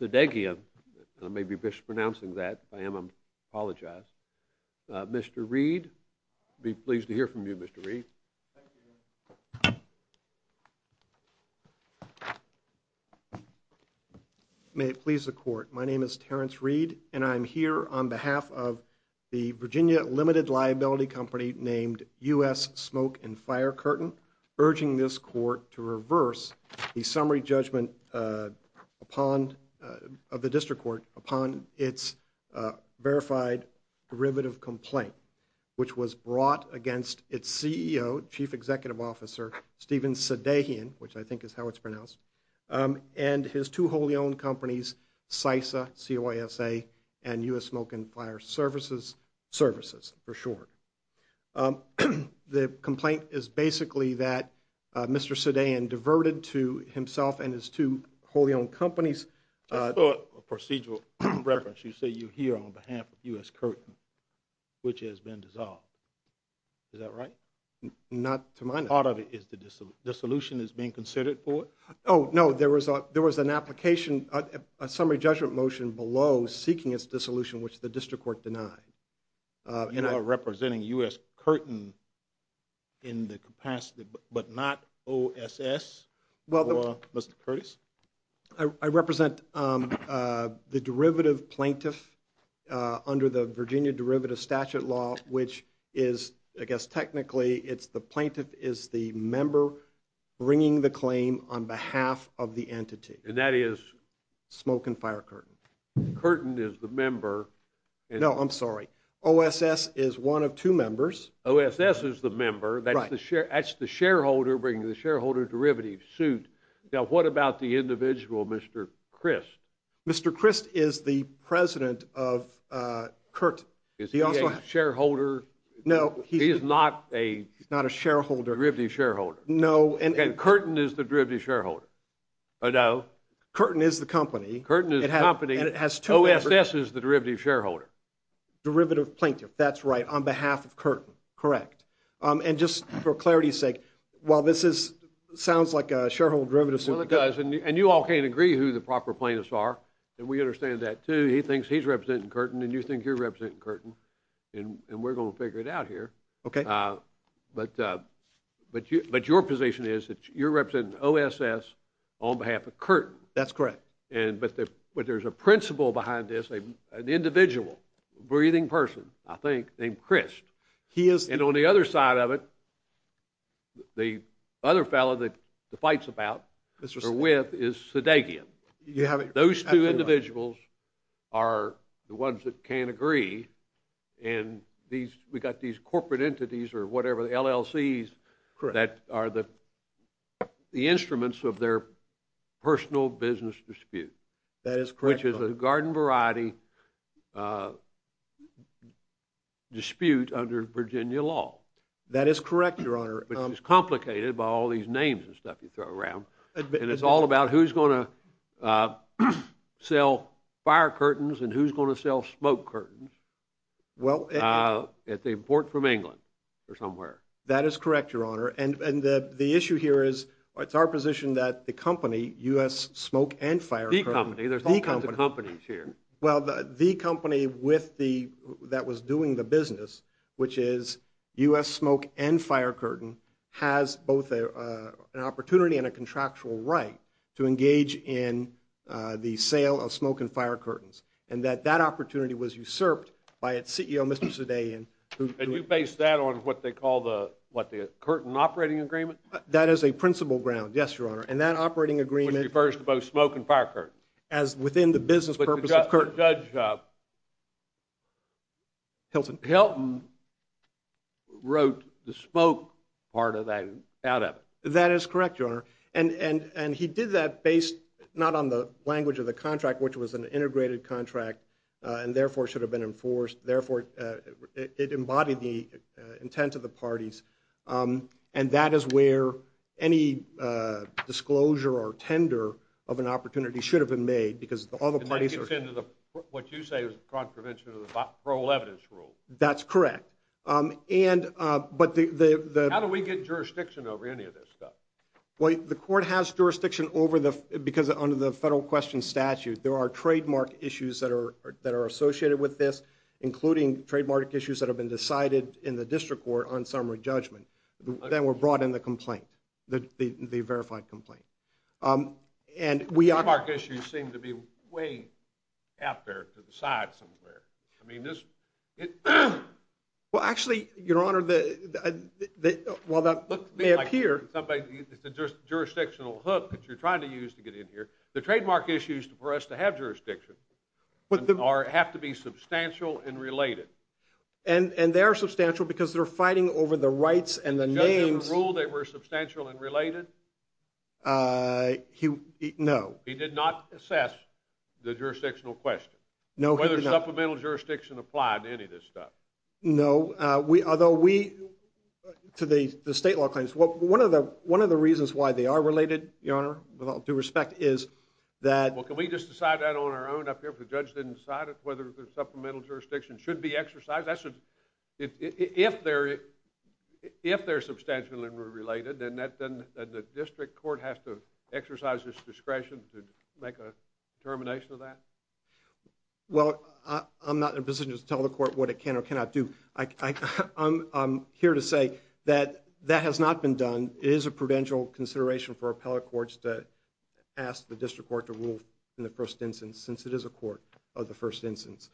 Sadeghian. I may be mispronouncing that. If I am, I apologize. Mr. Reed. I'd be pleased to hear from you, Mr. Reed. May it please the Court. My name is Terrence Reed, and I am here on behalf of the Virginia Limited Liability Company, named U.S. Smoke and Fire Curtain, urging this Court to reverse the summary judgment of the District Court upon its verified derivative complaint, which was brought against its CEO, Chief Executive Officer Steven Sadeghian, which I think is how it's pronounced, and his two wholly-owned companies, CISA, C-O-I-S-A, and U.S. Smoke and Fire Services, for short. The complaint is basically that Mr. Sadeghian diverted to himself and his two wholly-owned companies. That's not a procedural reference. You say you're here on behalf of U.S. Curtain, which has been dissolved. Is that right? Not to my knowledge. Part of it is the dissolution is being considered for it? Oh, no. There was an application, a summary judgment motion below seeking its dissolution, which the District Court denied. You are representing U.S. Curtain in the capacity, but not OSS, or Mr. Curtis? I represent the derivative plaintiff under the Virginia Derivative Statute law, which is, I guess technically, it's the plaintiff is the member bringing the claim on behalf of the entity. And that is? Curtain is the member. No, I'm sorry. OSS is one of two members. OSS is the member. That's the shareholder bringing the shareholder derivative suit. Now, what about the individual, Mr. Crist? Mr. Crist is the president of Curt. Is he a shareholder? No. He is not a derivative shareholder? No. And Curtain is the derivative shareholder? Curtain is the company. Curtain is the company. And it has two members. OSS is the derivative shareholder. Derivative plaintiff, that's right, on behalf of Curtain, correct. And just for clarity's sake, while this sounds like a shareholder derivative suit, Well, it does, and you all can't agree who the proper plaintiffs are, and we understand that, too. He thinks he's representing Curtain, and you think you're representing Curtain, and we're going to figure it out here. Okay. But your position is that you're representing OSS on behalf of Curtain. That's correct. But there's a principle behind this, an individual, a breathing person, I think, named Crist. And on the other side of it, the other fellow that the fight's about, or with, is Sudeikin. Those two individuals are the ones that can't agree, and we've got these corporate entities or whatever, the LLCs, that are the instruments of their personal business dispute. That is correct, Your Honor. Which is a garden variety dispute under Virginia law. That is correct, Your Honor. Which is complicated by all these names and stuff you throw around. And it's all about who's going to sell fire curtains and who's going to sell smoke curtains at the port from England or somewhere. That is correct, Your Honor. And the issue here is, it's our position that the company, U.S. Smoke and Fire Curtain... The company. There's all kinds of companies here. Well, the company that was doing the business, which is U.S. Smoke and Fire Curtain, has both an opportunity and a contractual right to engage in the sale of smoke and fire curtains. And that that opportunity was usurped by its CEO, Mr. Sudeikin. And you base that on what they call the, what, the Curtain Operating Agreement? That is a principal ground, yes, Your Honor. And that operating agreement... Which refers to both smoke and fire curtains. As within the business purpose of curtains. But the judge... Hilton. Hilton wrote the smoke part of that out of it. That is correct, Your Honor. And he did that based, not on the language of the contract, which was an integrated contract, and therefore should have been enforced. Therefore, it embodied the intent of the parties. And that is where any disclosure or tender of an opportunity should have been made. Because all the parties are... And that gets into what you say is a contravention of the parole evidence rule. That's correct. How do we get jurisdiction over any of this stuff? Well, the court has jurisdiction over the, because under the federal question statute, there are trademark issues that are associated with this, including trademark issues that have been decided in the district court on summary judgment. That were brought in the complaint, the verified complaint. And we... Trademark issues seem to be way out there to the side somewhere. I mean, this... Well, actually, Your Honor, while that may appear... It's a jurisdictional hook that you're trying to use to get in here. The trademark issues for us to have jurisdiction have to be substantial and related. And they are substantial because they're fighting over the rights and the names. Did the judge ever rule they were substantial and related? No. He did not assess the jurisdictional question? No, he did not. Whether supplemental jurisdiction applied to any of this stuff? No. Although we... To the state law claims. One of the reasons why they are related, Your Honor, with all due respect, is that... Well, can we just decide that on our own up here if the judge didn't decide it? Whether the supplemental jurisdiction should be exercised? That should... If they're substantial and related, then the district court has to exercise its discretion to make a determination of that? Well, I'm not in a position to tell the court what it can or cannot do. I'm here to say that that has not been done. It is a prudential consideration for appellate courts to ask the district court to rule in the first instance, since it is a court of the first instance.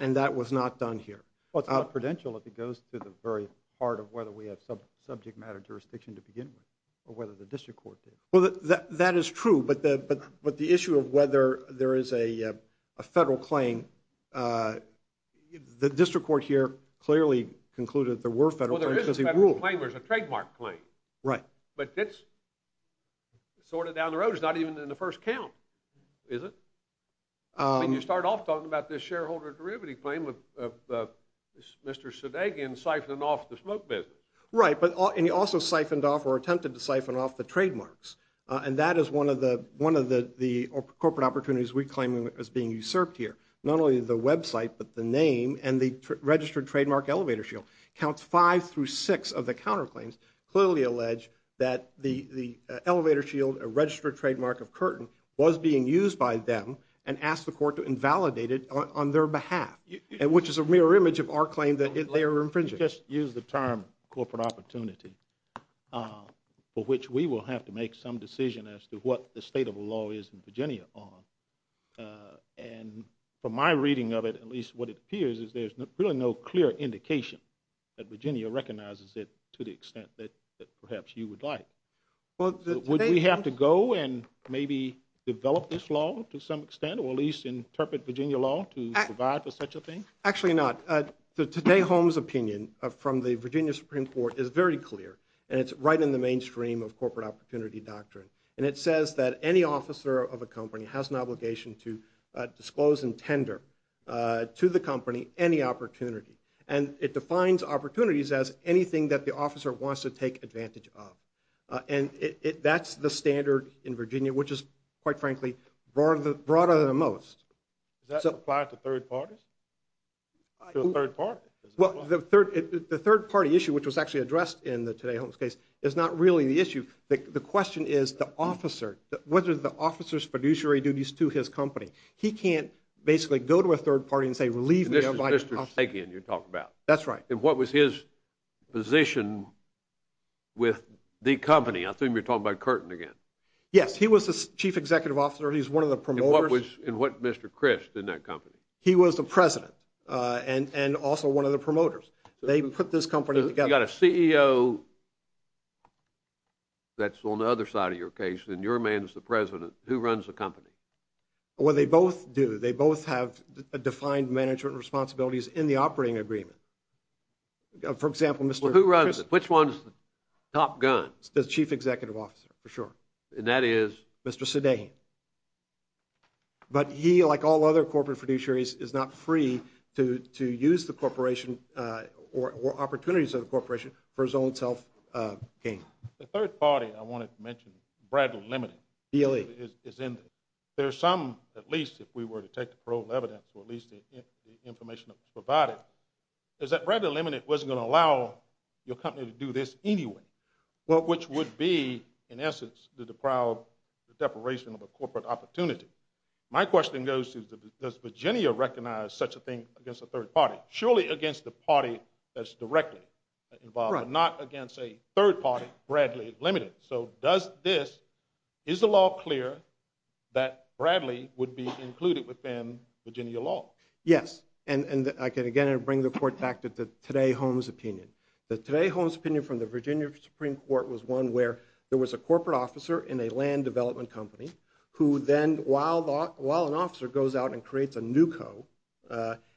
And that was not done here. Well, it's not prudential if it goes to the very part of whether we have subject matter jurisdiction to begin with, or whether the district court did. Well, that is true. But the issue of whether there is a federal claim... The district court here clearly concluded there were federal claims because he ruled. Well, there is a federal claim. There's a trademark claim. Right. But it's sort of down the road. It's not even in the first count, is it? I mean, you start off talking about this shareholder derivative claim of Mr. Sudeikin siphoning off the smoke business. Right. And he also siphoned off or attempted to siphon off the trademarks. And that is one of the corporate opportunities we claim as being usurped here. Not only the website, but the name and the registered trademark elevator shield. Counts five through six of the counterclaims clearly allege that the elevator shield, a registered trademark of Curtin, was being used by them and asked the court to invalidate it on their behalf, which is a mirror image of our claim that they are infringing. Let's just use the term corporate opportunity, for which we will have to make some decision as to what the state of the law is in Virginia on. And from my reading of it, at least what it appears is there's really no clear indication that Virginia recognizes it to the extent that perhaps you would like. Would we have to go and maybe develop this law to some extent, or at least interpret Virginia law to provide for such a thing? Actually not. Today Holmes' opinion from the Virginia Supreme Court is very clear, and it's right in the mainstream of corporate opportunity doctrine. And it says that any officer of a company has an obligation to disclose and tender to the company any opportunity. And it defines opportunities as anything that the officer wants to take advantage of. And that's the standard in Virginia, which is, quite frankly, broader than most. Does that apply to third parties? To a third party? Well, the third party issue, which was actually addressed in the Today Holmes case, is not really the issue. The question is the officer, whether the officer's fiduciary duties to his company. He can't basically go to a third party and say, leave me, I'm not an officer. This is Mr. Stegian you're talking about. That's right. And what was his position with the company? I assume you're talking about Curtin again. Yes, he was the chief executive officer. He was one of the promoters. And what was Mr. Crist in that company? He was the president and also one of the promoters. They put this company together. You've got a CEO that's on the other side of your case, and your man's the president. Who runs the company? Well, they both do. They both have defined management responsibilities in the operating agreement. For example, Mr. Crist. Well, who runs it? Which one's the top gun? The chief executive officer, for sure. And that is? Mr. Stegian. But he, like all other corporate producers, is not free to use the corporation or opportunities of the corporation for his own self gain. The third party I wanted to mention, Bradley Limited, is in there. There's some, at least if we were to take the proven evidence, or at least the information that was provided, is that Bradley Limited wasn't going to allow your company to do this anyway, which would be, in essence, the deprivation of a corporate opportunity. My question goes to, does Virginia recognize such a thing against a third party? Surely against the party that's directly involved, but not against a third party, Bradley Limited. So does this, is the law clear that Bradley would be included within Virginia law? Yes. And I can again bring the report back to the Today Home's opinion. The Today Home's opinion from the Virginia Supreme Court was one where there was a corporate officer in a land development company who then, while an officer goes out and creates a new co,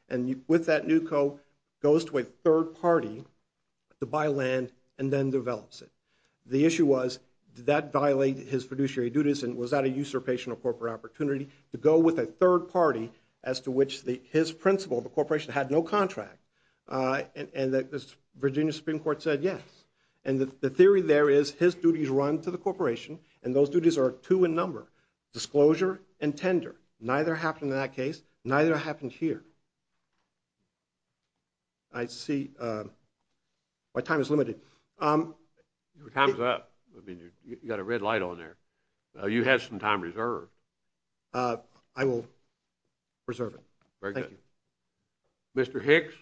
and with that new co goes to a third party to buy land and then develops it. The issue was, did that violate his fiduciary duties and was that a usurpation of corporate opportunity to go with a third party as to which his principal, the corporation, had no contract? And the Virginia Supreme Court said yes. And the theory there is his duties run to the corporation and those duties are two in number, disclosure and tender. Neither happened in that case, neither happened here. I see my time is limited. Your time's up. I mean, you got a red light on there. You had some time reserved. I will reserve it. Very good. Thank you. Mr. Hicks?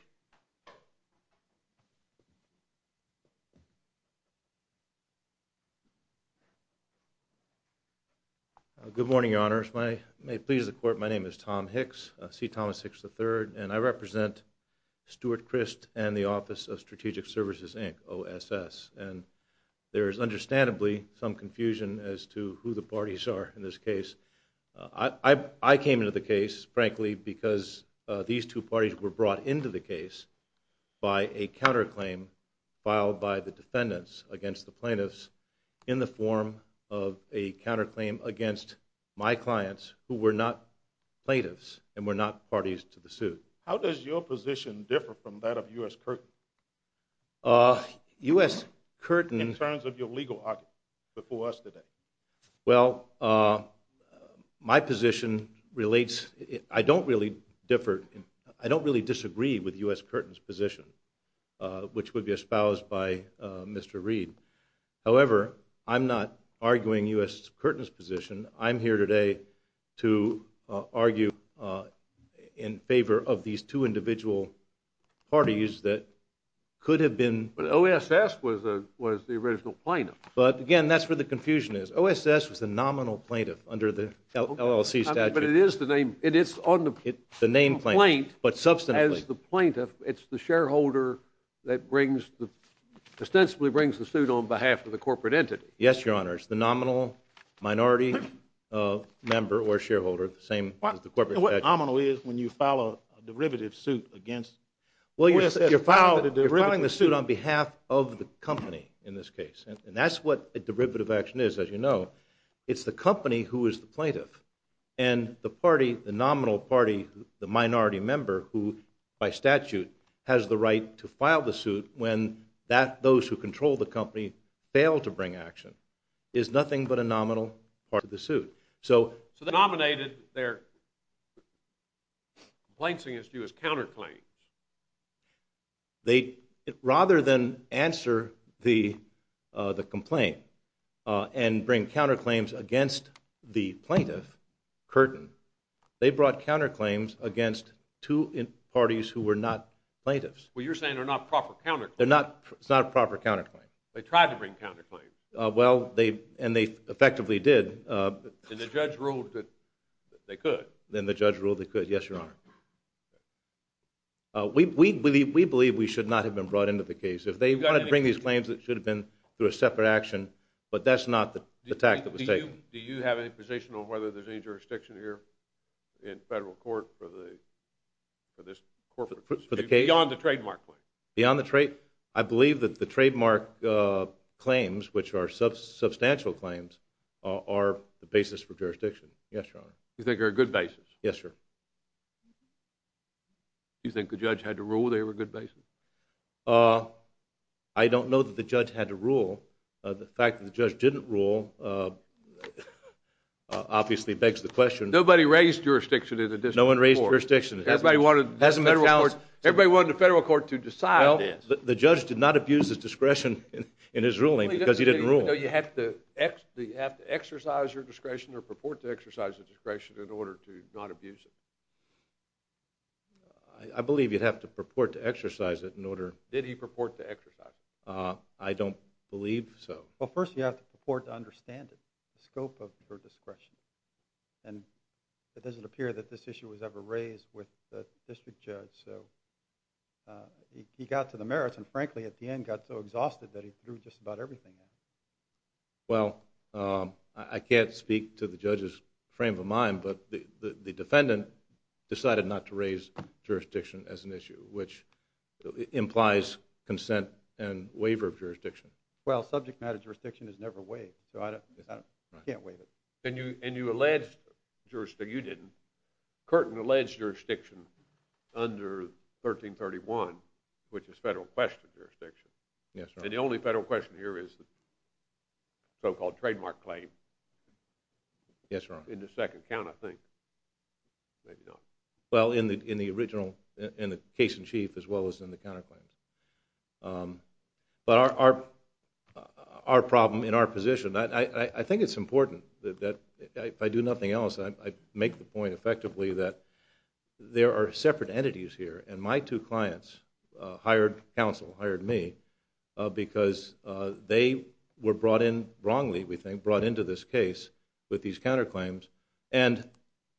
Good morning, Your Honors. May it please the Court, my name is Tom Hicks, C. Thomas Hicks III, and I represent Stuart Crist and the Office of Strategic Services, Inc., OSS. And there is understandably some confusion as to who the parties are in this case. I came into the case, frankly, because these two parties were brought into the case by a counterclaim filed by the defendants against the plaintiffs in the form of a counterclaim against my clients who were not plaintiffs and were not parties to the suit. How does your position differ from that of U.S. Curtin? U.S. Curtin... In terms of your legal arguments before us today. Well, my position relates... I don't really differ... I don't really disagree with U.S. Curtin's position, which would be espoused by Mr. Reed. However, I'm not arguing U.S. Curtin's position. I'm here today to argue in favor of these two individual parties that could have been... But OSS was the original plaintiff. But, again, that's where the confusion is. OSS was the nominal plaintiff under the LLC statute. But it is the name... The name plaintiff, but substantively. As the plaintiff, it's the shareholder that ostensibly brings the suit on behalf of the corporate entity. Yes, Your Honor, it's the nominal minority member or shareholder, the same as the corporate entity. What nominal is when you file a derivative suit against... Well, you're filing the suit on behalf of the company in this case. And that's what a derivative action is, as you know. It's the company who is the plaintiff. And the party, the nominal party, the minority member, who, by statute, has the right to file the suit when those who control the company fail to bring action, is nothing but a nominal part of the suit. So they nominated their complaints against U.S. counterclaims. Rather than answer the complaint and bring counterclaims against the plaintiff, Curtin, they brought counterclaims against two parties who were not plaintiffs. Well, you're saying they're not proper counterclaims. They're not proper counterclaims. They tried to bring counterclaims. Well, and they effectively did. And the judge ruled that they could. And the judge ruled they could, yes, Your Honor. We believe we should not have been brought into the case. If they wanted to bring these claims, it should have been through a separate action. But that's not the tact that was taken. Do you have any position on whether there's any jurisdiction here in federal court for this corporate case? Beyond the trademark claim. I believe that the trademark claims, which are substantial claims, are the basis for jurisdiction. Yes, Your Honor. You think they're a good basis? Yes, sir. You think the judge had to rule they were a good basis? I don't know that the judge had to rule. The fact that the judge didn't rule obviously begs the question. Nobody raised jurisdiction in the district court. No one raised jurisdiction. Everybody wanted the federal court to decide this. The judge did not abuse his discretion in his ruling because he didn't rule. You have to exercise your discretion or purport to exercise the discretion in order to not abuse it? I believe you'd have to purport to exercise it in order. Did he purport to exercise it? I don't believe so. Well, first you have to purport to understand it, the scope of your discretion. It doesn't appear that this issue was ever raised with the district judge. He got to the merits and, frankly, at the end got so exhausted that he threw just about everything in. Well, I can't speak to the judge's frame of mind, but the defendant decided not to raise jurisdiction as an issue, which implies consent and waiver of jurisdiction. Well, subject matter jurisdiction is never waived, so I can't waive it. And you alleged jurisdiction. You didn't. Curtin alleged jurisdiction under 1331, which is federal question jurisdiction. Yes, Your Honor. And the only federal question here is the so-called trademark claim. Yes, Your Honor. In the second count, I think. Maybe not. Well, in the original, in the case in chief as well as in the counterclaim. But our problem in our position, I think it's important that if I do nothing else, I make the point effectively that there are separate entities here, and my two clients hired counsel, hired me, because they were brought in wrongly, we think, brought into this case with these counterclaims, and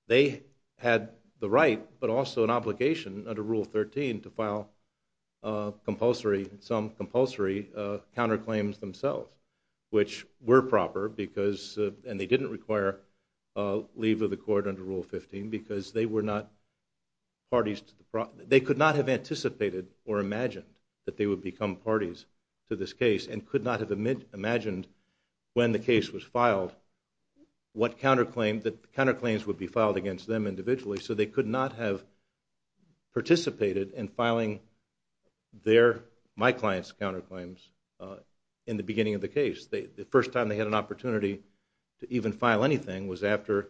they had the right but also an obligation under Rule 13 to file compulsory, some compulsory counterclaims themselves, which were proper because, and they didn't require leave of the court under Rule 15 because they were not parties to the, they could not have anticipated or imagined that they would become parties to this case and could not have imagined when the case was filed what counterclaim, that counterclaims would be filed against them individually, so they could not have participated in filing their, my client's counterclaims in the beginning of the case. The first time they had an opportunity to even file anything was after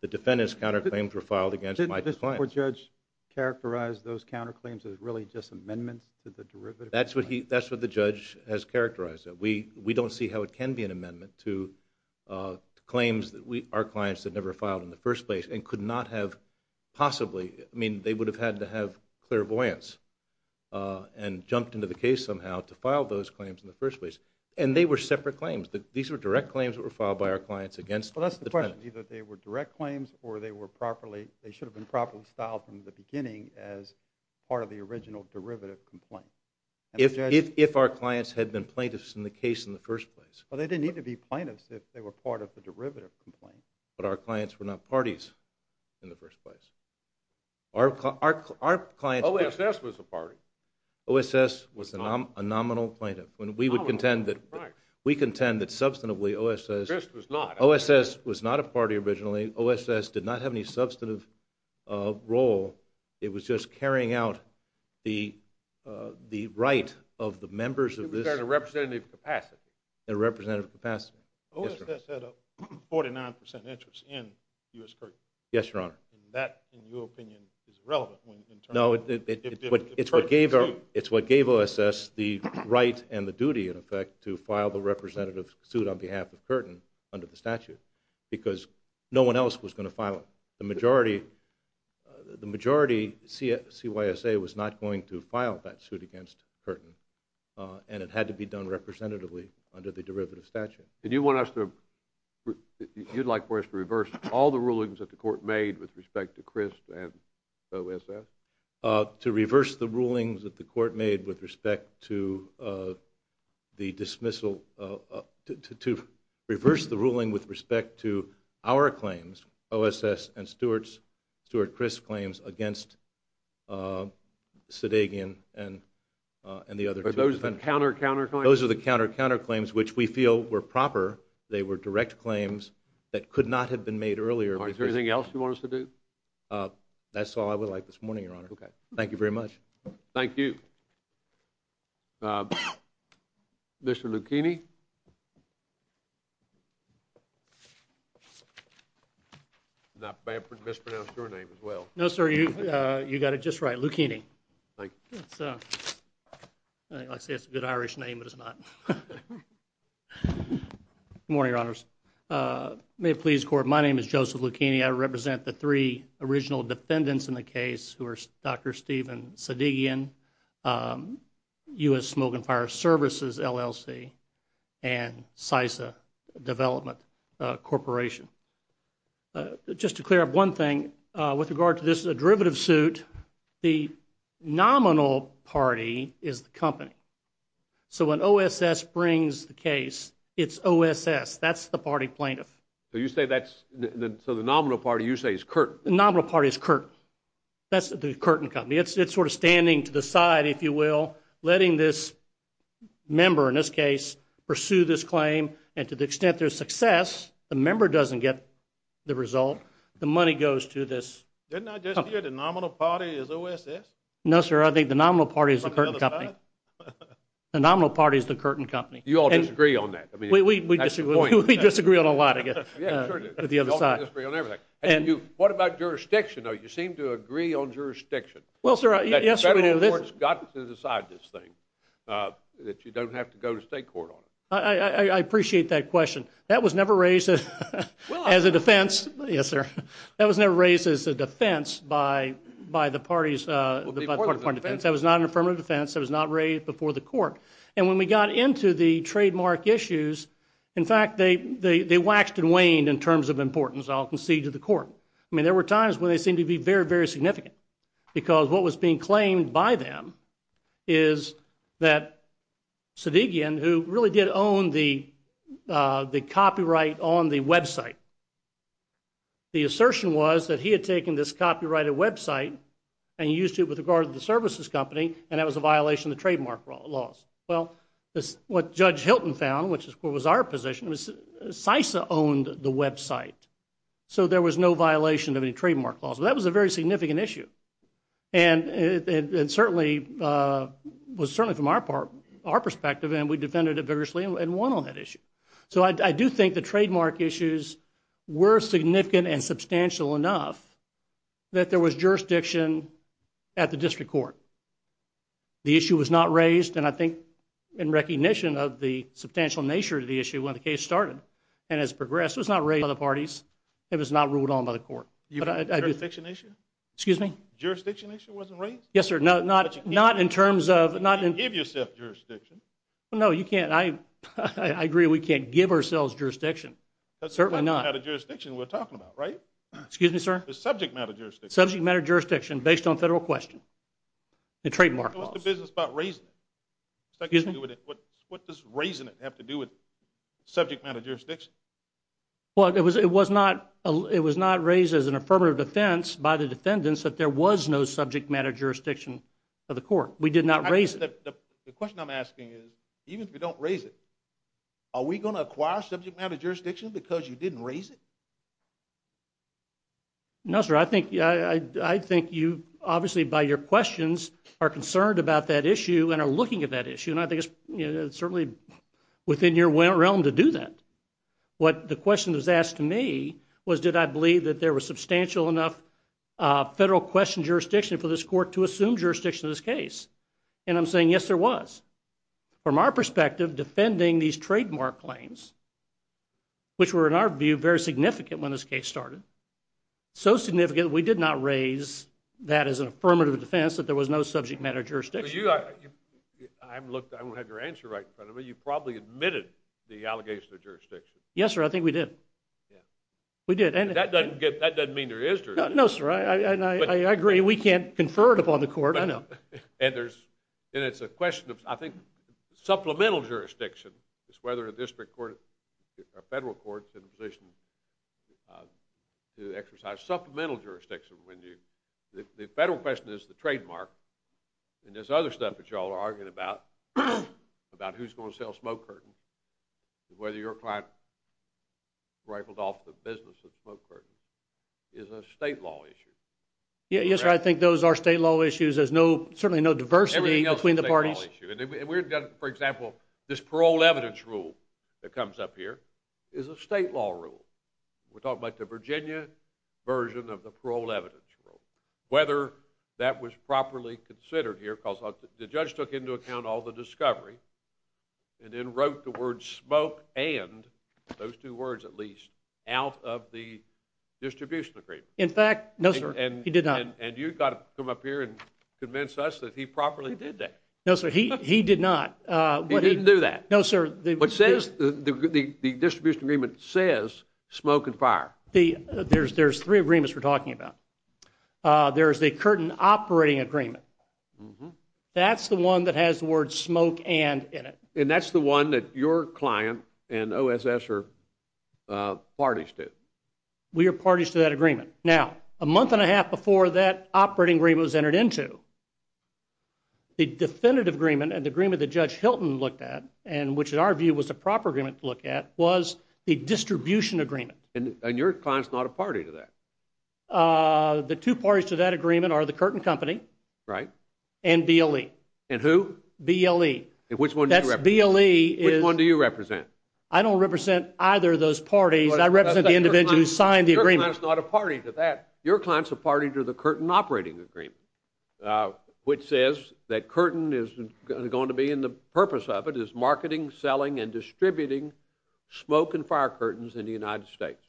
the defendant's counterclaims were filed against my client. Didn't the court judge characterize those counterclaims as really just amendments to the derivative? That's what the judge has characterized it. We don't see how it can be an amendment to claims that our clients had never filed in the first place and could not have possibly, I mean, they would have had to have clairvoyance and jumped into the case somehow to file those claims in the first place, and they were separate claims. These were direct claims that were filed by our clients against the defendant. Well, that's the question. Either they were direct claims or they were properly, they should have been properly styled from the beginning as part of the original derivative complaint. If our clients had been plaintiffs in the case in the first place. Well, they didn't need to be plaintiffs if they were part of the derivative complaint. But our clients were not parties in the first place. Our clients... OSS was a party. OSS was a nominal plaintiff. We would contend that substantively OSS... OSS was not a party originally. OSS did not have any substantive role. It was just carrying out the right of the members of this... It was there in a representative capacity. In a representative capacity. OSS had a 49% interest in U.S. Courts. Yes, Your Honor. That, in your opinion, is irrelevant in terms of... It's what gave OSS the right and the duty, in effect, to file the representative suit on behalf of Curtin under the statute because no one else was going to file it. The majority, CYSA, was not going to file that suit against Curtin and it had to be done representatively under the derivative statute. Do you want us to... You'd like for us to reverse all the rulings that the Court made with respect to Crisp and OSS? To reverse the rulings that the Court made with respect to the dismissal... To reverse the ruling with respect to our claims, OSS and Stewart Crisp claims, against Sedagian and the other two defendants. Are those the counter-counterclaims? Those are the counter-counterclaims, which we feel were proper. They were direct claims that could not have been made earlier. Is there anything else you want us to do? That's all I would like this morning, Your Honor. Okay. Thank you very much. Thank you. Mr. Lucchini? I mispronounced your name as well. No, sir, you got it just right, Lucchini. Thank you. I'd say it's a good Irish name, but it's not. Good morning, Your Honors. May it please the Court, my name is Joseph Lucchini. I represent the three original defendants in the case who are Dr. Steven Sedagian, U.S. Smoke and Fire Services, LLC, and SISA Development Corporation. Just to clear up one thing, with regard to this derivative suit, the nominal party is the company. So when OSS brings the case, it's OSS. That's the party plaintiff. So you say that's the nominal party, you say is Curtin. The nominal party is Curtin. That's the Curtin Company. It's sort of standing to the side, if you will, letting this member, in this case, pursue this claim, and to the extent there's success, the member doesn't get the result. The money goes to this company. Didn't I just hear the nominal party is OSS? No, sir, I think the nominal party is the Curtin Company. The nominal party is the Curtin Company. You all disagree on that? We disagree on a lot, I guess, at the other side. You all disagree on everything. What about jurisdiction, though? You seem to agree on jurisdiction. Well, sir, yes, sir. The federal court has got to decide this thing, that you don't have to go to state court on it. I appreciate that question. That was never raised as a defense. Yes, sir. That was never raised as a defense by the party's defense. That was not an affirmative defense. That was not raised before the court. And when we got into the trademark issues, in fact, they waxed and waned in terms of importance, I'll concede, to the court. I mean, there were times when they seemed to be very, very significant because what was being claimed by them is that Sedigian, who really did own the copyright on the website, the assertion was that he had taken this copyrighted website and used it with regard to the services company, and that was a violation of the trademark laws. Well, what Judge Hilton found, which, of course, was our position, was CISA owned the website, so there was no violation of any trademark laws. So that was a very significant issue. And it was certainly from our perspective, and we defended it vigorously and won on that issue. So I do think the trademark issues were significant and substantial enough that there was jurisdiction at the district court. The issue was not raised, and I think in recognition of the substantial nature of the issue when the case started and has progressed, it was not raised by other parties. It was not ruled on by the court. Jurisdiction issue? Excuse me? Jurisdiction issue wasn't raised? Yes, sir. Not in terms of... You can't give yourself jurisdiction. No, you can't. I agree we can't give ourselves jurisdiction. Certainly not. That's not the kind of jurisdiction we're talking about, right? Excuse me, sir? The subject matter jurisdiction. Subject matter jurisdiction based on federal question. The trademark laws. What's the business about raising it? Excuse me? What does raising it have to do with subject matter jurisdiction? Well, it was not raised as an affirmative defense by the defendants that there was no subject matter jurisdiction of the court. We did not raise it. The question I'm asking is, even if we don't raise it, are we going to acquire subject matter jurisdiction because you didn't raise it? No, sir. I think you obviously by your questions are concerned about that issue and are looking at that issue, and I think it's certainly within your realm to do that. The question that was asked to me was, did I believe that there was substantial enough federal question jurisdiction for this court to assume jurisdiction in this case? And I'm saying, yes, there was. From our perspective, defending these trademark claims, which were in our view very significant when this case started, so significant we did not raise that as an affirmative defense that there was no subject matter jurisdiction. I haven't looked. I don't have your answer right in front of me. You probably admitted the allegation of jurisdiction. Yes, sir. I think we did. We did. That doesn't mean there is jurisdiction. No, sir. I agree. We can't confer it upon the court. I know. And it's a question of, I think, supplemental jurisdiction. It's whether a district court or federal court is in a position to exercise supplemental jurisdiction. The federal question is the trademark, and there's other stuff that you all are arguing about, about who's going to sell Smoke Curtain, whether your client rifled off the business of Smoke Curtain, is a state law issue. Yes, sir. I think those are state law issues. There's certainly no diversity between the parties. Everything else is a state law issue. For example, this parole evidence rule that comes up here is a state law rule. We're talking about the Virginia version of the parole evidence rule. Whether that was properly considered here, because the judge took into account all the discovery and then wrote the word smoke and, those two words at least, out of the distribution agreement. In fact, no, sir, he did not. And you've got to come up here and convince us that he properly did that. No, sir, he did not. He didn't do that. No, sir. The distribution agreement says smoke and fire. There's three agreements we're talking about. There's the Curtain Operating Agreement. That's the one that has the word smoke and in it. And that's the one that your client and OSS are parties to. We are parties to that agreement. Now, a month and a half before that operating agreement was entered into, the definitive agreement and the agreement that Judge Hilton looked at, which in our view was the proper agreement to look at, was the distribution agreement. And your client's not a party to that. The two parties to that agreement are the Curtain Company and BLE. And who? BLE. And which one do you represent? Which one do you represent? I don't represent either of those parties. I represent the individual who signed the agreement. Your client's not a party to that. Which says that Curtain is going to be, and the purpose of it is marketing, selling, and distributing smoke and fire curtains in the United States.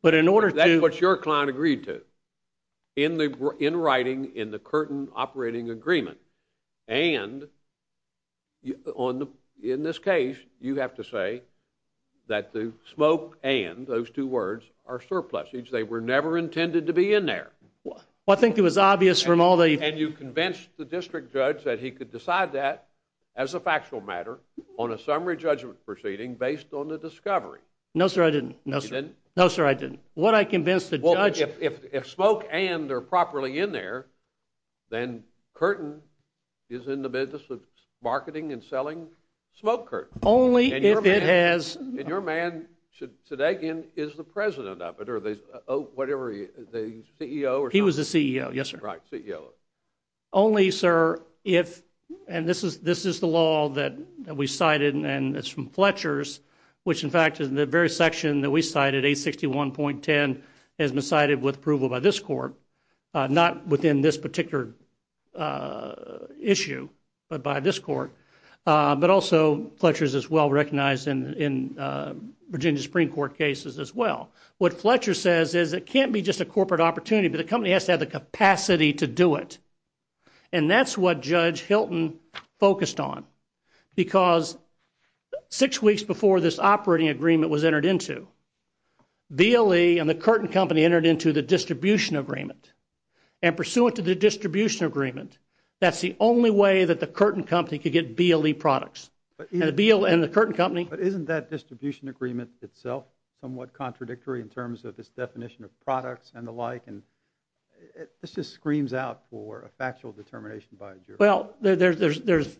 But in order to – That's what your client agreed to in writing in the Curtain Operating Agreement. And in this case, you have to say that the smoke and those two words are surpluses. They were never intended to be in there. Well, I think it was obvious from all the – And you convinced the district judge that he could decide that as a factual matter on a summary judgment proceeding based on the discovery. No, sir, I didn't. You didn't? No, sir, I didn't. What I convinced the judge – Well, if smoke and are properly in there, then Curtain is in the business of marketing and selling smoke curtains. Only if it has – And your man, today again, is the president of it, or whatever, the CEO or something? He was the CEO, yes, sir. Right, CEO. Only, sir, if – And this is the law that we cited, and it's from Fletcher's, which in fact is the very section that we cited, 861.10, has been cited with approval by this court, not within this particular issue, but by this court. But also Fletcher's is well recognized in Virginia Supreme Court cases as well. What Fletcher says is it can't be just a corporate opportunity, but the company has to have the capacity to do it. And that's what Judge Hilton focused on, because six weeks before this operating agreement was entered into, BLE and the Curtain Company entered into the distribution agreement, and pursuant to the distribution agreement, that's the only way that the Curtain Company could get BLE products. And the Curtain Company – in terms of its definition of products and the like, and this just screams out for a factual determination by a jury. Well, there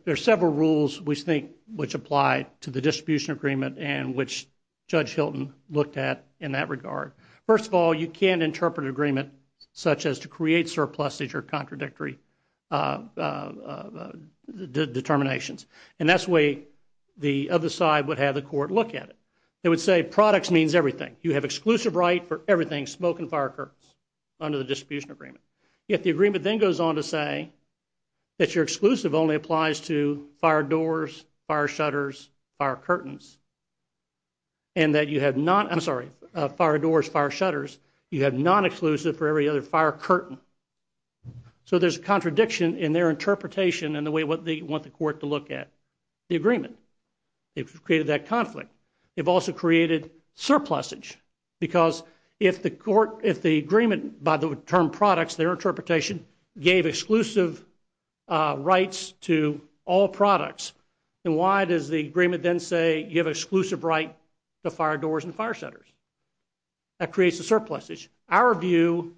are several rules we think which apply to the distribution agreement and which Judge Hilton looked at in that regard. First of all, you can't interpret an agreement such as to create surpluses or contradictory determinations. And that's the way the other side would have the court look at it. They would say products means everything. You have exclusive right for everything, smoke and fire curtains, under the distribution agreement. Yet the agreement then goes on to say that your exclusive only applies to fire doors, fire shutters, fire curtains, and that you have not – I'm sorry, fire doors, fire shutters. You have non-exclusive for every other fire curtain. So there's a contradiction in their interpretation and the way they want the court to look at the agreement. They've created that conflict. They've also created surplusage because if the agreement, by the term products, their interpretation, gave exclusive rights to all products, then why does the agreement then say you have exclusive right to fire doors and fire shutters? That creates a surplusage. Our view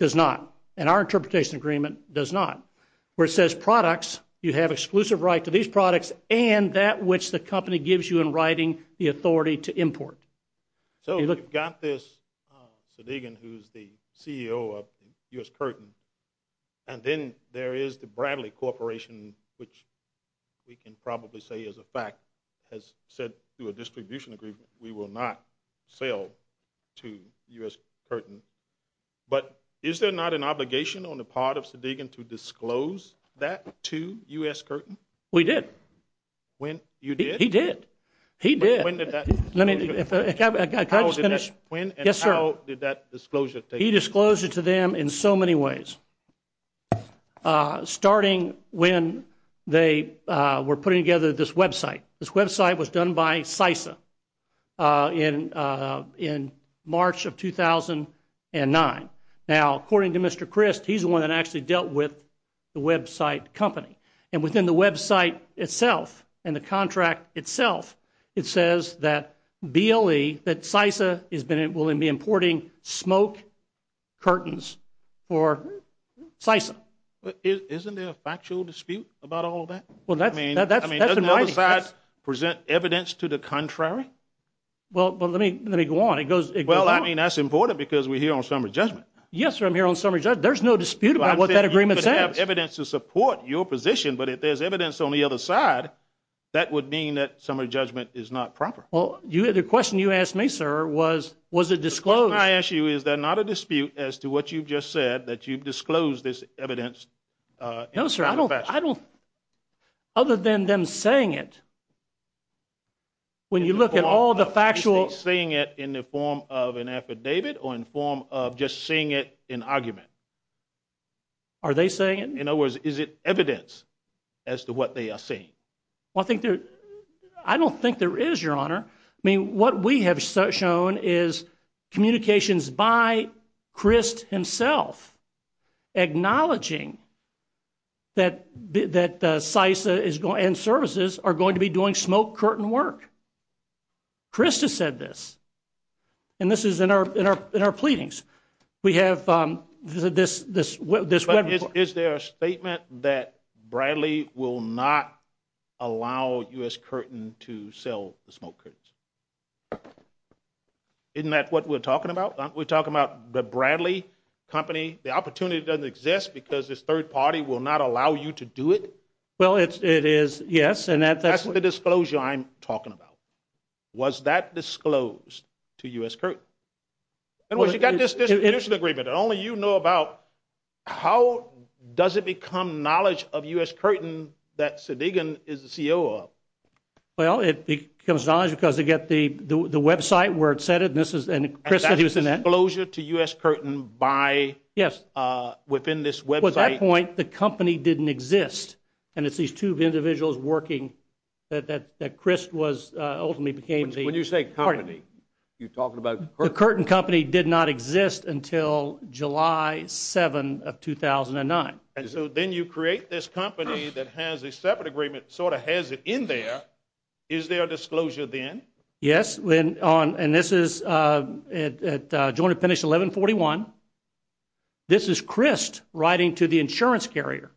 does not, and our interpretation agreement does not, where it says products, you have exclusive right to these products and that which the company gives you in writing, the authority to import. So you've got this, Sadegan, who's the CEO of U.S. Curtain, and then there is the Bradley Corporation, which we can probably say is a fact, has said through a distribution agreement, we will not sell to U.S. Curtain. But is there not an obligation on the part of Sadegan to disclose that to U.S. Curtain? We did. You did? He did. He did. When and how did that disclosure take place? He disclosed it to them in so many ways, starting when they were putting together this website. This website was done by CISA in March of 2009. Now, according to Mr. Christ, he's the one that actually dealt with the website company. And within the website itself and the contract itself, it says that BLE, that CISA is willing to be importing smoke curtains for CISA. Isn't there a factual dispute about all of that? I mean, doesn't the other side present evidence to the contrary? Well, let me go on. Well, I mean, that's important because we're here on summary judgment. Yes, sir, I'm here on summary judgment. There's no dispute about what that agreement says. You have evidence to support your position, but if there's evidence on the other side, that would mean that summary judgment is not proper. Well, the question you asked me, sir, was, was it disclosed? The question I ask you is there not a dispute as to what you've just said, that you've disclosed this evidence in a factual fashion? No, sir, I don't. Other than them saying it, when you look at all the factual... Are they saying it in the form of an affidavit or in the form of just seeing it in argument? Are they saying it? In other words, is it evidence as to what they are saying? Well, I think there... I don't think there is, Your Honor. I mean, what we have shown is communications by Christ himself acknowledging that CISA and services are going to be doing smoke curtain work. Christ has said this, and this is in our pleadings. We have this... But is there a statement that Bradley will not allow U.S. Curtain to sell the smoke curtains? Isn't that what we're talking about? Aren't we talking about the Bradley company? The opportunity doesn't exist because this third party will not allow you to do it? Well, it is, yes. That's the disclosure I'm talking about. Was that disclosed to U.S. Curtain? You've got this distribution agreement, and only you know about... How does it become knowledge of U.S. Curtain that Sedighen is the COO of? Well, it becomes knowledge because they get the website where it said it, and Christ said he was in that. And that's disclosure to U.S. Curtain within this website? At that point, the company didn't exist, When you say company, you're talking about Curtain? The Curtain company did not exist until July 7 of 2009. And so then you create this company that has a separate agreement, sort of has it in there. Is there a disclosure then? Yes, and this is at Joint Appendix 1141. This is Christ writing to the insurance carrier,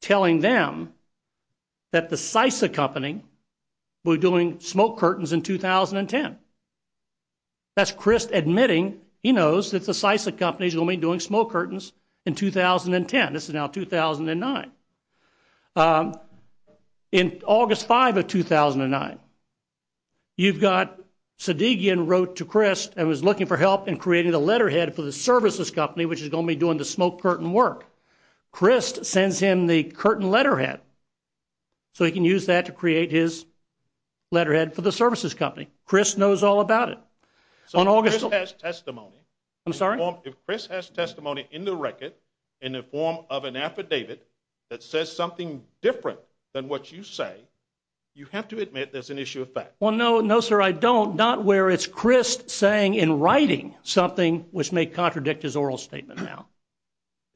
telling them that the Sisa Company will be doing smoke curtains in 2010. That's Christ admitting he knows that the Sisa Company is going to be doing smoke curtains in 2010. This is now 2009. In August 5 of 2009, you've got Sedighen wrote to Christ and was looking for help in creating the letterhead for the services company, which is going to be doing the smoke curtain work. Christ sends him the Curtain letterhead, so he can use that to create his letterhead for the services company. Christ knows all about it. So if Christ has testimony in the record in the form of an affidavit that says something different than what you say, you have to admit there's an issue of fact. Well, no, sir, I don't. Well, not where it's Christ saying in writing something which may contradict his oral statement now.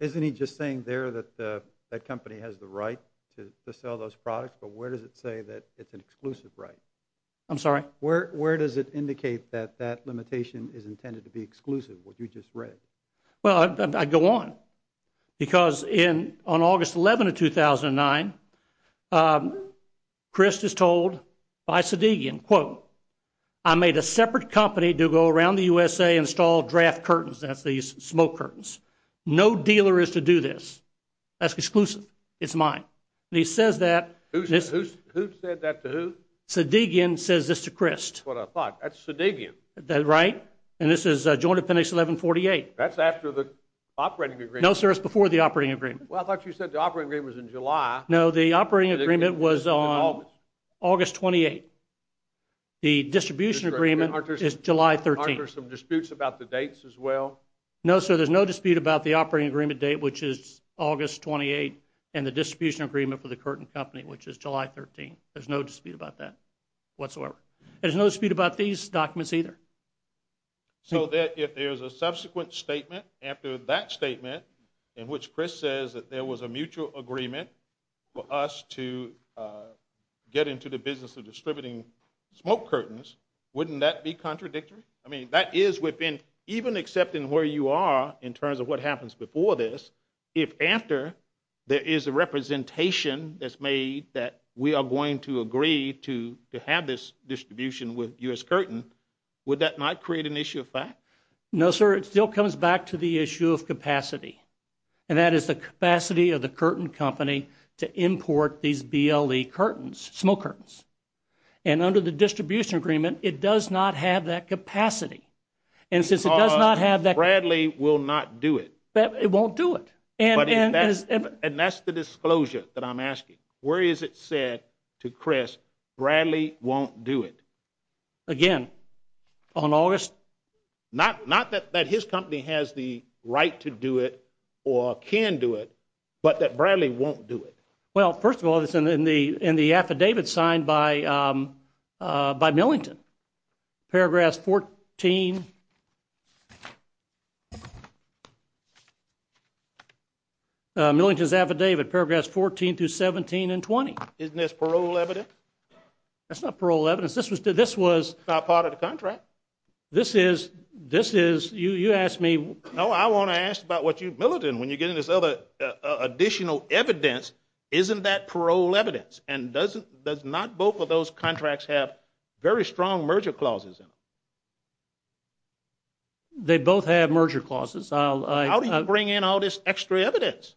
Isn't he just saying there that the company has the right to sell those products, but where does it say that it's an exclusive right? I'm sorry? Where does it indicate that that limitation is intended to be exclusive, what you just read? Well, I go on. Because on August 11 of 2009, Christ is told by Sedighen, quote, I made a separate company to go around the USA and install draft curtains, that's these smoke curtains. No dealer is to do this. That's exclusive. It's mine. And he says that. Who said that to who? Sedighen says this to Christ. That's what I thought. That's Sedighen. Right? And this is Joint Appendix 1148. That's after the operating agreement. No, sir, it's before the operating agreement. Well, I thought you said the operating agreement was in July. No, the operating agreement was on August 28. The distribution agreement is July 13. Aren't there some disputes about the dates as well? No, sir, there's no dispute about the operating agreement date, which is August 28, and the distribution agreement for the curtain company, which is July 13. There's no dispute about that whatsoever. There's no dispute about these documents either. So if there's a subsequent statement after that statement in which Chris says that there was a mutual agreement for us to get into the business of distributing smoke curtains, wouldn't that be contradictory? I mean, that is within even accepting where you are in terms of what happens before this, if after there is a representation that's made that we are going to agree to have this distribution with U.S. Curtain, would that not create an issue of fact? No, sir, it still comes back to the issue of capacity, and that is the capacity of the curtain company to import these BLE curtains, smoke curtains. And under the distribution agreement, it does not have that capacity. Because Bradley will not do it. It won't do it. And that's the disclosure that I'm asking. Where is it said to Chris, Bradley won't do it? Again, on August? Not that his company has the right to do it or can do it, but that Bradley won't do it. Well, first of all, it's in the affidavit signed by Millington, paragraphs 14, Millington's affidavit, paragraphs 14 through 17 and 20. Isn't this parole evidence? That's not parole evidence. This was part of the contract. This is, this is, you asked me. No, I want to ask about what you, Millington, when you're getting this other additional evidence, isn't that parole evidence? And doesn't, does not both of those contracts have very strong merger clauses in them? They both have merger clauses. How do you bring in all this extra evidence?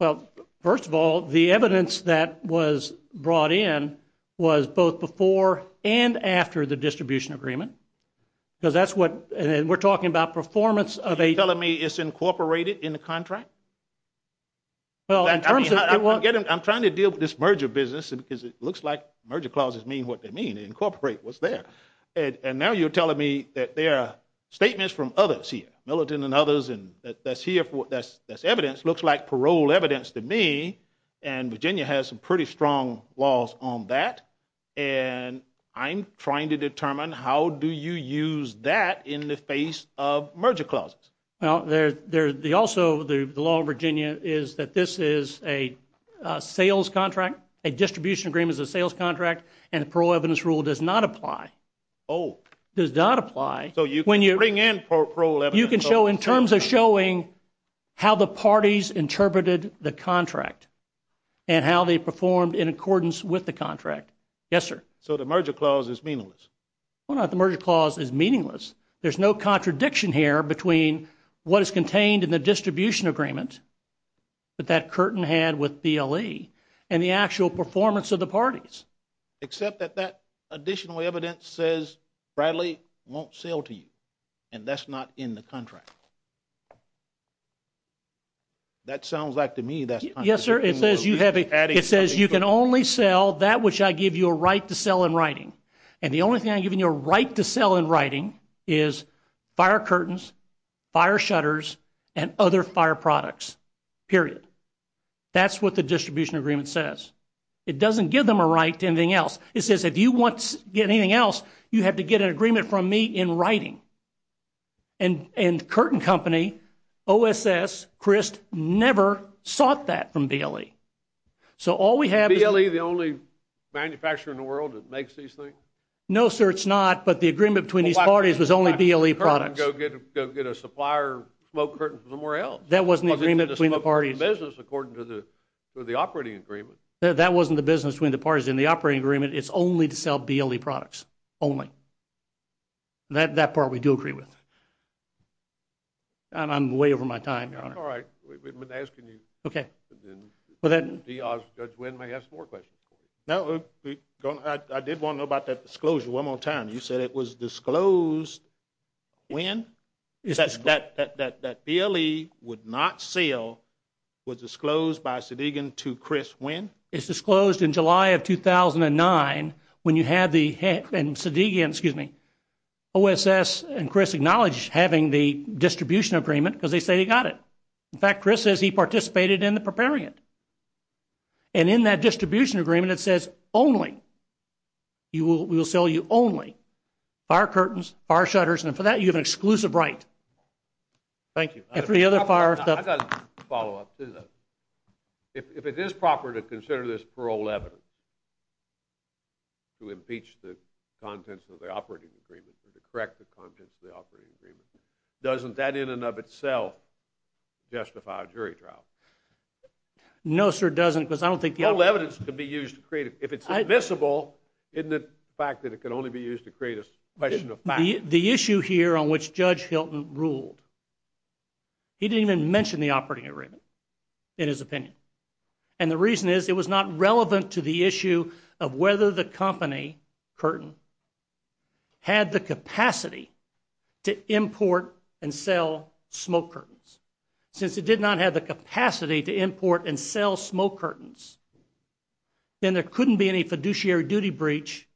Well, first of all, the evidence that was brought in was both before and after the distribution agreement. Because that's what, and we're talking about performance of a. Are you telling me it's incorporated in the contract? Well, I'm trying to deal with this merger business, because it looks like merger clauses mean what they mean, incorporate what's there. And now you're telling me that there are statements from others here, Millington and others, and that's here, that's evidence, looks like parole evidence to me. And Virginia has some pretty strong laws on that. And I'm trying to determine how do you use that in the face of merger clauses? Well, also the law of Virginia is that this is a sales contract, a distribution agreement is a sales contract, and the parole evidence rule does not apply. Oh. Does not apply. So you can bring in parole evidence. You can show in terms of showing how the parties interpreted the contract and how they performed in accordance with the contract. Yes, sir. So the merger clause is meaningless. Why not? The merger clause is meaningless. There's no contradiction here between what is contained in the distribution agreement that that curtain had with BLE and the actual performance of the parties. Except that that additional evidence says Bradley won't sell to you, and that's not in the contract. That sounds like to me that's not true. Yes, sir. It says you can only sell that which I give you a right to sell in writing. And the only thing I give you a right to sell in writing is fire curtains, fire shutters, and other fire products, period. That's what the distribution agreement says. It doesn't give them a right to anything else. It says if you want to get anything else, you have to get an agreement from me in writing. And Curtin Company, OSS, Christ, never sought that from BLE. BLE the only manufacturer in the world that makes these things? No, sir, it's not. But the agreement between these parties was only BLE products. Go get a supplier smoke curtain from somewhere else. That wasn't the agreement between the parties. According to the operating agreement. That wasn't the business between the parties in the operating agreement. It's only to sell BLE products only. That part we do agree with. I'm way over my time, Your Honor. All right. We've been asking you. Okay. Judge Wynn may have some more questions. No, I did want to know about that disclosure one more time. You said it was disclosed when? That BLE would not sell was disclosed by Sedegan to Chris when? It's disclosed in July of 2009 when you had the head and Sedegan, excuse me, OSS and Chris acknowledged having the distribution agreement because they say they got it. In fact, Chris says he participated in the preparing it. And in that distribution agreement it says only. We will sell you only fire curtains, fire shutters, and for that you have an exclusive right. Thank you. I've got a follow-up. If it is proper to consider this parole evidence to impeach the contents of the operating agreement or to correct the contents of the operating agreement, doesn't that in and of itself justify a jury trial? No, sir, it doesn't because I don't think the other one. Parole evidence can be used to create, if it's admissible, isn't it the fact that it can only be used to create a question of fact? The issue here on which Judge Hilton ruled, he didn't even mention the operating agreement in his opinion. And the reason is it was not relevant to the issue of whether the company, Curtin, had the capacity to import and sell smoke curtains. Since it did not have the capacity to import and sell smoke curtains, then there couldn't be any fiduciary duty breach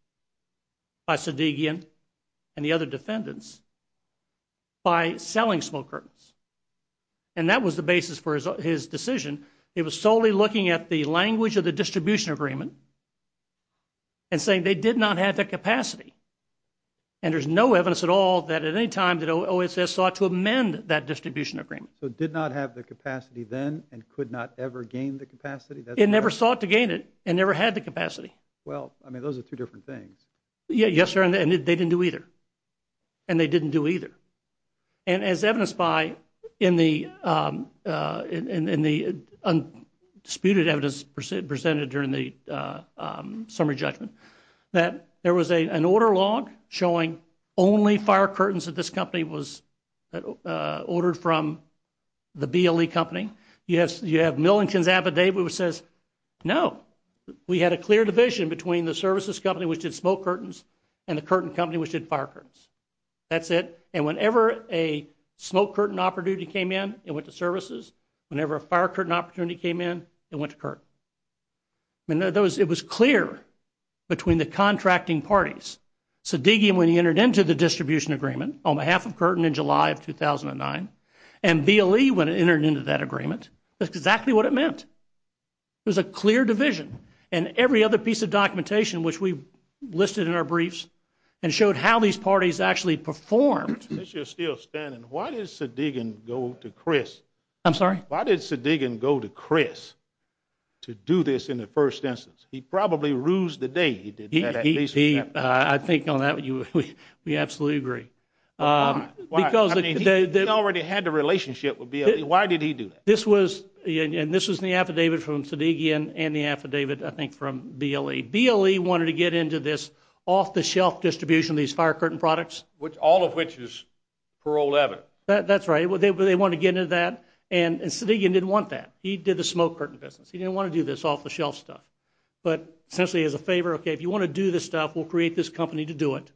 by Sadigian and the other defendants by selling smoke curtains. And that was the basis for his decision. It was solely looking at the language of the distribution agreement and saying they did not have the capacity. And there's no evidence at all that at any time that OSS sought to amend that distribution agreement. So it did not have the capacity then and could not ever gain the capacity? It never sought to gain it and never had the capacity. Well, I mean, those are two different things. Yes, sir, and they didn't do either. And they didn't do either. And as evidenced by in the undisputed evidence presented during the summary judgment that there was an order log showing only fire curtains at this company was ordered from the BLE company. You have Millington's affidavit which says, no, we had a clear division between the services company which did smoke curtains and the Curtin company which did fire curtains. That's it. And whenever a smoke curtain opportunity came in, it went to services. Whenever a fire curtain opportunity came in, it went to Curtin. It was clear between the contracting parties. Sedighian, when he entered into the distribution agreement on behalf of Curtin in July of 2009, and BLE when it entered into that agreement, that's exactly what it meant. It was a clear division. And every other piece of documentation which we listed in our briefs and showed how these parties actually performed. I'm sorry? He didn't do this in the first instance. He probably rused the day he did that. I think on that, we absolutely agree. Why? He already had the relationship with BLE. Why did he do that? And this was in the affidavit from Sedighian and the affidavit, I think, from BLE. BLE wanted to get into this off-the-shelf distribution of these fire curtain products. All of which is paroled evidence. That's right. They wanted to get into that. And Sedighian didn't want that. He did the smoke curtain business. He didn't want to do this off-the-shelf stuff. But essentially as a favor, okay, if you want to do this stuff, we'll create this company to do it.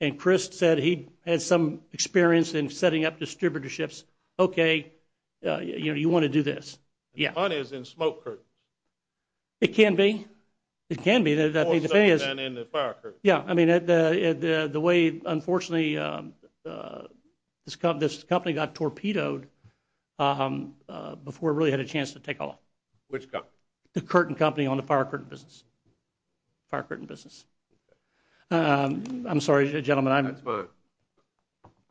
And Chris said he had some experience in setting up distributorships. Okay, you want to do this. The point is in smoke curtain. It can be. It can be. More so than in the fire curtain. Yeah. I mean, the way, unfortunately, this company got torpedoed before it really had a chance to take off. Which company? The curtain company on the fire curtain business. Fire curtain business. I'm sorry, gentlemen. That's fine.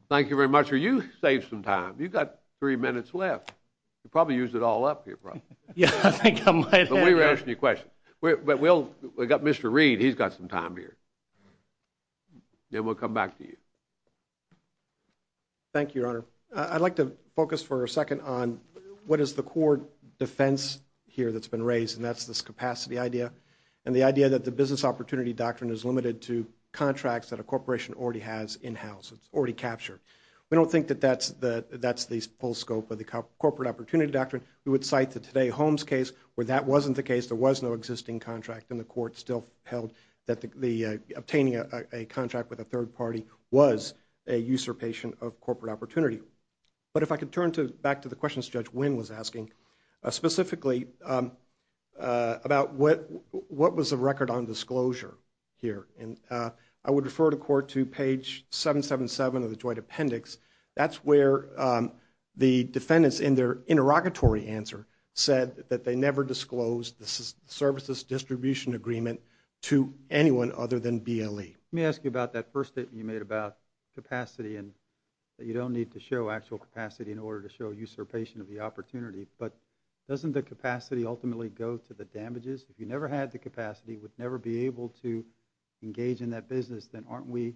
Thank you very much. You saved some time. You've got three minutes left. You probably used it all up here probably. Yeah, I think I might have. But we were asking you questions. He's got some time here. Then we'll come back to you. Thank you, Your Honor. I'd like to focus for a second on what is the core defense here that's been raised, and that's this capacity idea, and the idea that the business opportunity doctrine is limited to contracts that a corporation already has in-house, it's already captured. We don't think that that's the full scope of the corporate opportunity doctrine. We would cite the Today Homes case where that wasn't the case, there was no existing contract, and the court still held that obtaining a contract with a third party was a usurpation of corporate opportunity. But if I could turn back to the questions Judge Wynn was asking, specifically about what was the record on disclosure here, and I would refer the court to page 777 of the joint appendix. That's where the defendants in their interrogatory answer said that they never disclosed the services distribution agreement to anyone other than BLE. Let me ask you about that first statement you made about capacity and that you don't need to show actual capacity in order to show usurpation of the opportunity. But doesn't the capacity ultimately go to the damages? If you never had the capacity, would never be able to engage in that business, then aren't we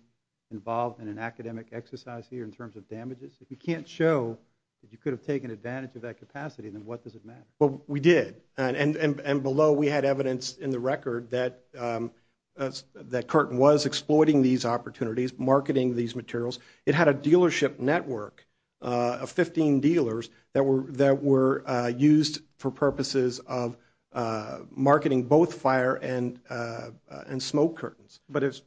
involved in an academic exercise here in terms of damages? If you can't show that you could have taken advantage of that capacity, then what does it matter? Well, we did. And below we had evidence in the record that Curtin was exploiting these opportunities, marketing these materials. It had a dealership network of 15 dealers that were used for purposes of marketing both fire and smoke curtains. But if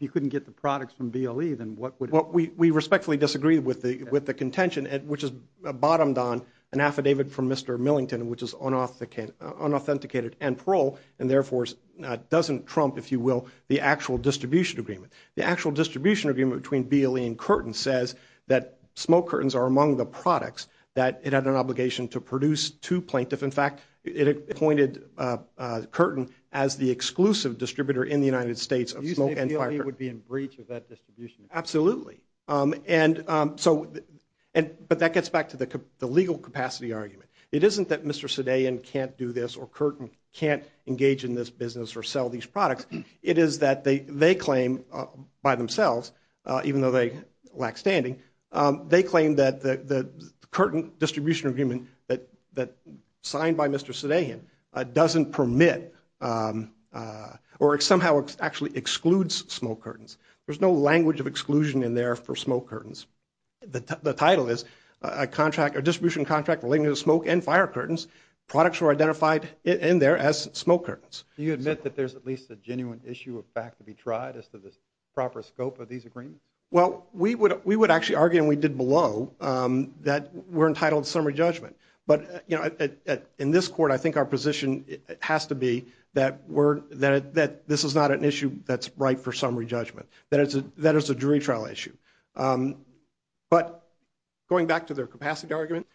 you couldn't get the products from BLE, then what would it be? We respectfully disagree with the contention, which is bottomed on an affidavit from Mr. Millington, which is unauthenticated and parole and, therefore, doesn't trump, if you will, the actual distribution agreement. The actual distribution agreement between BLE and Curtin says that smoke curtains are among the products that it had an obligation to produce to plaintiff. In fact, it appointed Curtin as the exclusive distributor in the United States of smoke and fire curtains. You say BLE would be in breach of that distribution? Absolutely. But that gets back to the legal capacity argument. It isn't that Mr. Sudeian can't do this or Curtin can't engage in this business or sell these products. It is that they claim by themselves, even though they lack standing, they claim that the Curtin distribution agreement that signed by Mr. Sudeian doesn't permit or somehow actually excludes smoke curtains. There's no language of exclusion in there for smoke curtains. The title is a distribution contract relating to smoke and fire curtains. Products were identified in there as smoke curtains. Do you admit that there's at least a genuine issue of fact to be tried as to the proper scope of these agreements? Well, we would actually argue, and we did below, that we're entitled to summary judgment. But in this court, I think our position has to be that this is not an issue that's right for summary judgment, that it's a jury trial issue. But going back to their capacity argument,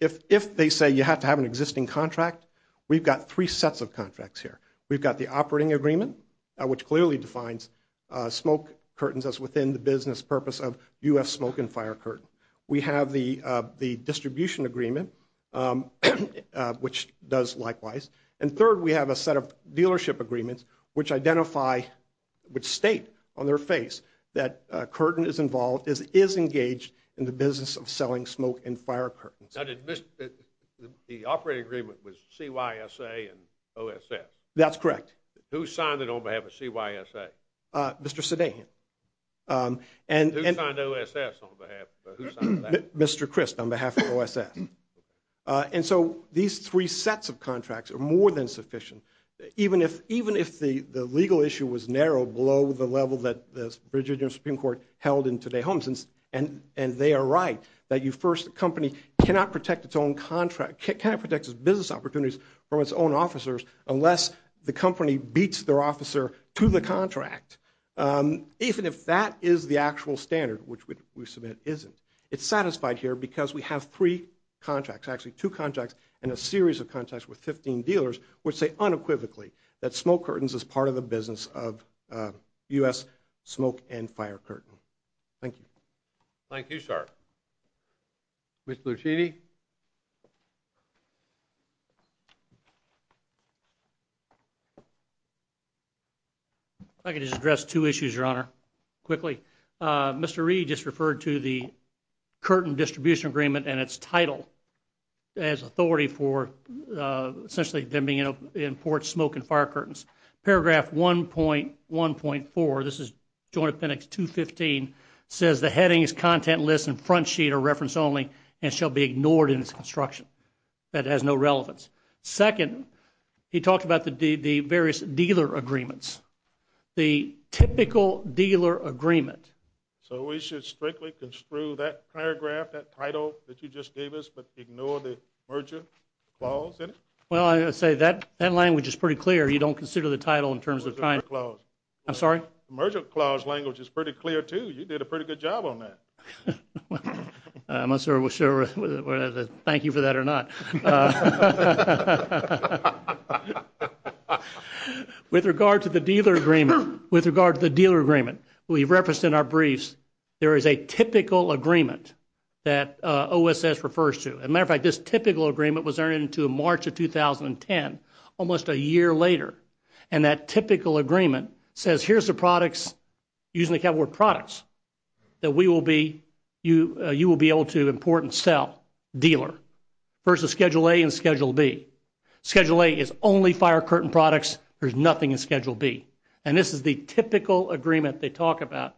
if they say you have to have an existing contract, we've got three sets of contracts here. We've got the operating agreement, which clearly defines smoke curtains as within the business purpose of U.S. smoke and fire curtain. We have the distribution agreement, which does likewise. And third, we have a set of dealership agreements, which identify, which state on their face that Curtin is involved, is engaged in the business of selling smoke and fire curtains. Now, the operating agreement was CYSA and OSS? That's correct. Who signed it on behalf of CYSA? Mr. Sedahan. Who signed OSS on behalf of that? Mr. Christ on behalf of OSS. And so these three sets of contracts are more than sufficient. Even if the legal issue was narrowed below the level that the Virginia Supreme Court held in today's homes, and they are right, that a company cannot protect its own contract, cannot protect its business opportunities from its own officers unless the company beats their officer to the contract. Even if that is the actual standard, which we submit isn't, it's satisfied here because we have three contracts, actually two contracts and a series of contracts with 15 dealers, which say unequivocally that Smoke Curtains is part of the business of U.S. Smoke and Fire Curtain. Thank you. Thank you, sir. Mr. Lucini. If I could just address two issues, Your Honor, quickly. Mr. Reed just referred to the Curtin distribution agreement and its title as authority for essentially them being in port Smoke and Fire Curtains. Paragraph 1.1.4, this is Joint Appendix 215, says the headings, content list, and front sheet are reference only and shall be ignored in its construction. That has no relevance. Second, he talked about the various dealer agreements. The typical dealer agreement. So we should strictly construe that paragraph, that title that you just gave us, but ignore the merger clause in it? Well, I would say that language is pretty clear. You don't consider the title in terms of time. Merger clause. I'm sorry? Merger clause language is pretty clear, too. You did a pretty good job on that. I'm not sure whether to thank you for that or not. With regard to the dealer agreement, with regard to the dealer agreement, we've referenced in our briefs there is a typical agreement that OSS refers to. As a matter of fact, this typical agreement was there into March of 2010, almost a year later. And that typical agreement says here's the products, using the cat word products, that we will be, you will be able to import and sell, dealer, versus Schedule A and Schedule B. Schedule A is only Fire Curtain products. There's nothing in Schedule B. And this is the typical agreement they talk about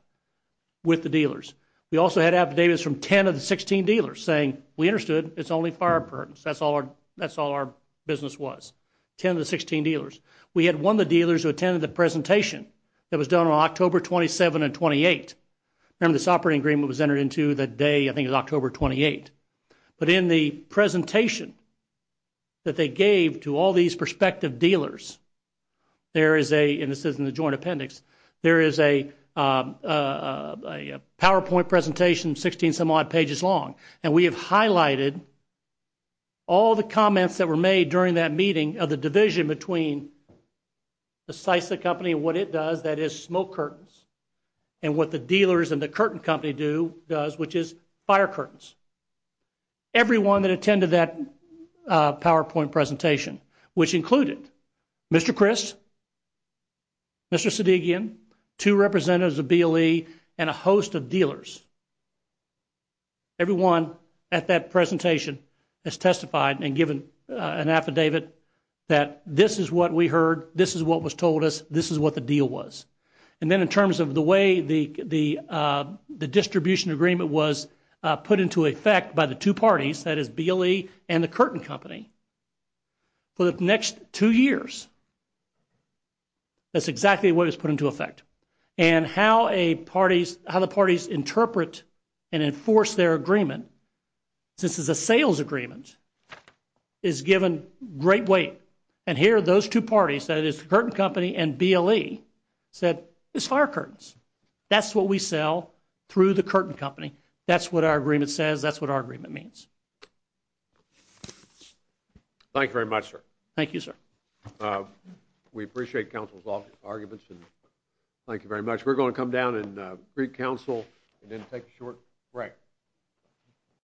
with the dealers. We also had affidavits from 10 of the 16 dealers saying we understood, it's only Fire Curtains. That's all our business was, 10 of the 16 dealers. We had one of the dealers who attended the presentation that was done on October 27 and 28. Remember this operating agreement was entered into the day, I think it was October 28. But in the presentation that they gave to all these prospective dealers, there is a, and this is in the joint appendix, there is a PowerPoint presentation, 16 some odd pages long. And we have highlighted all the comments that were made during that meeting of the division between the SISA company and what it does, that is smoke curtains. And what the dealers and the curtain company do, does, which is fire curtains. Everyone that attended that PowerPoint presentation, which included Mr. Chris, Mr. Sedigian, two representatives of BLE, and a host of dealers, everyone at that presentation has testified and given an affidavit that this is what we heard, this is what was told us, this is what the deal was. And then in terms of the way the distribution agreement was put into effect by the two parties, that is BLE and the curtain company, for the next two years, that's exactly what was put into effect. And how a parties, how the parties interpret and enforce their agreement, since it's a sales agreement, is given great weight. And here are those two parties, that is the curtain company and BLE, said it's fire curtains. That's what we sell through the curtain company. That's what our agreement says. That's what our agreement means. Thank you very much, sir. Thank you, sir. We appreciate counsel's arguments and thank you very much. We're going to come down and greet counsel and then take a short break.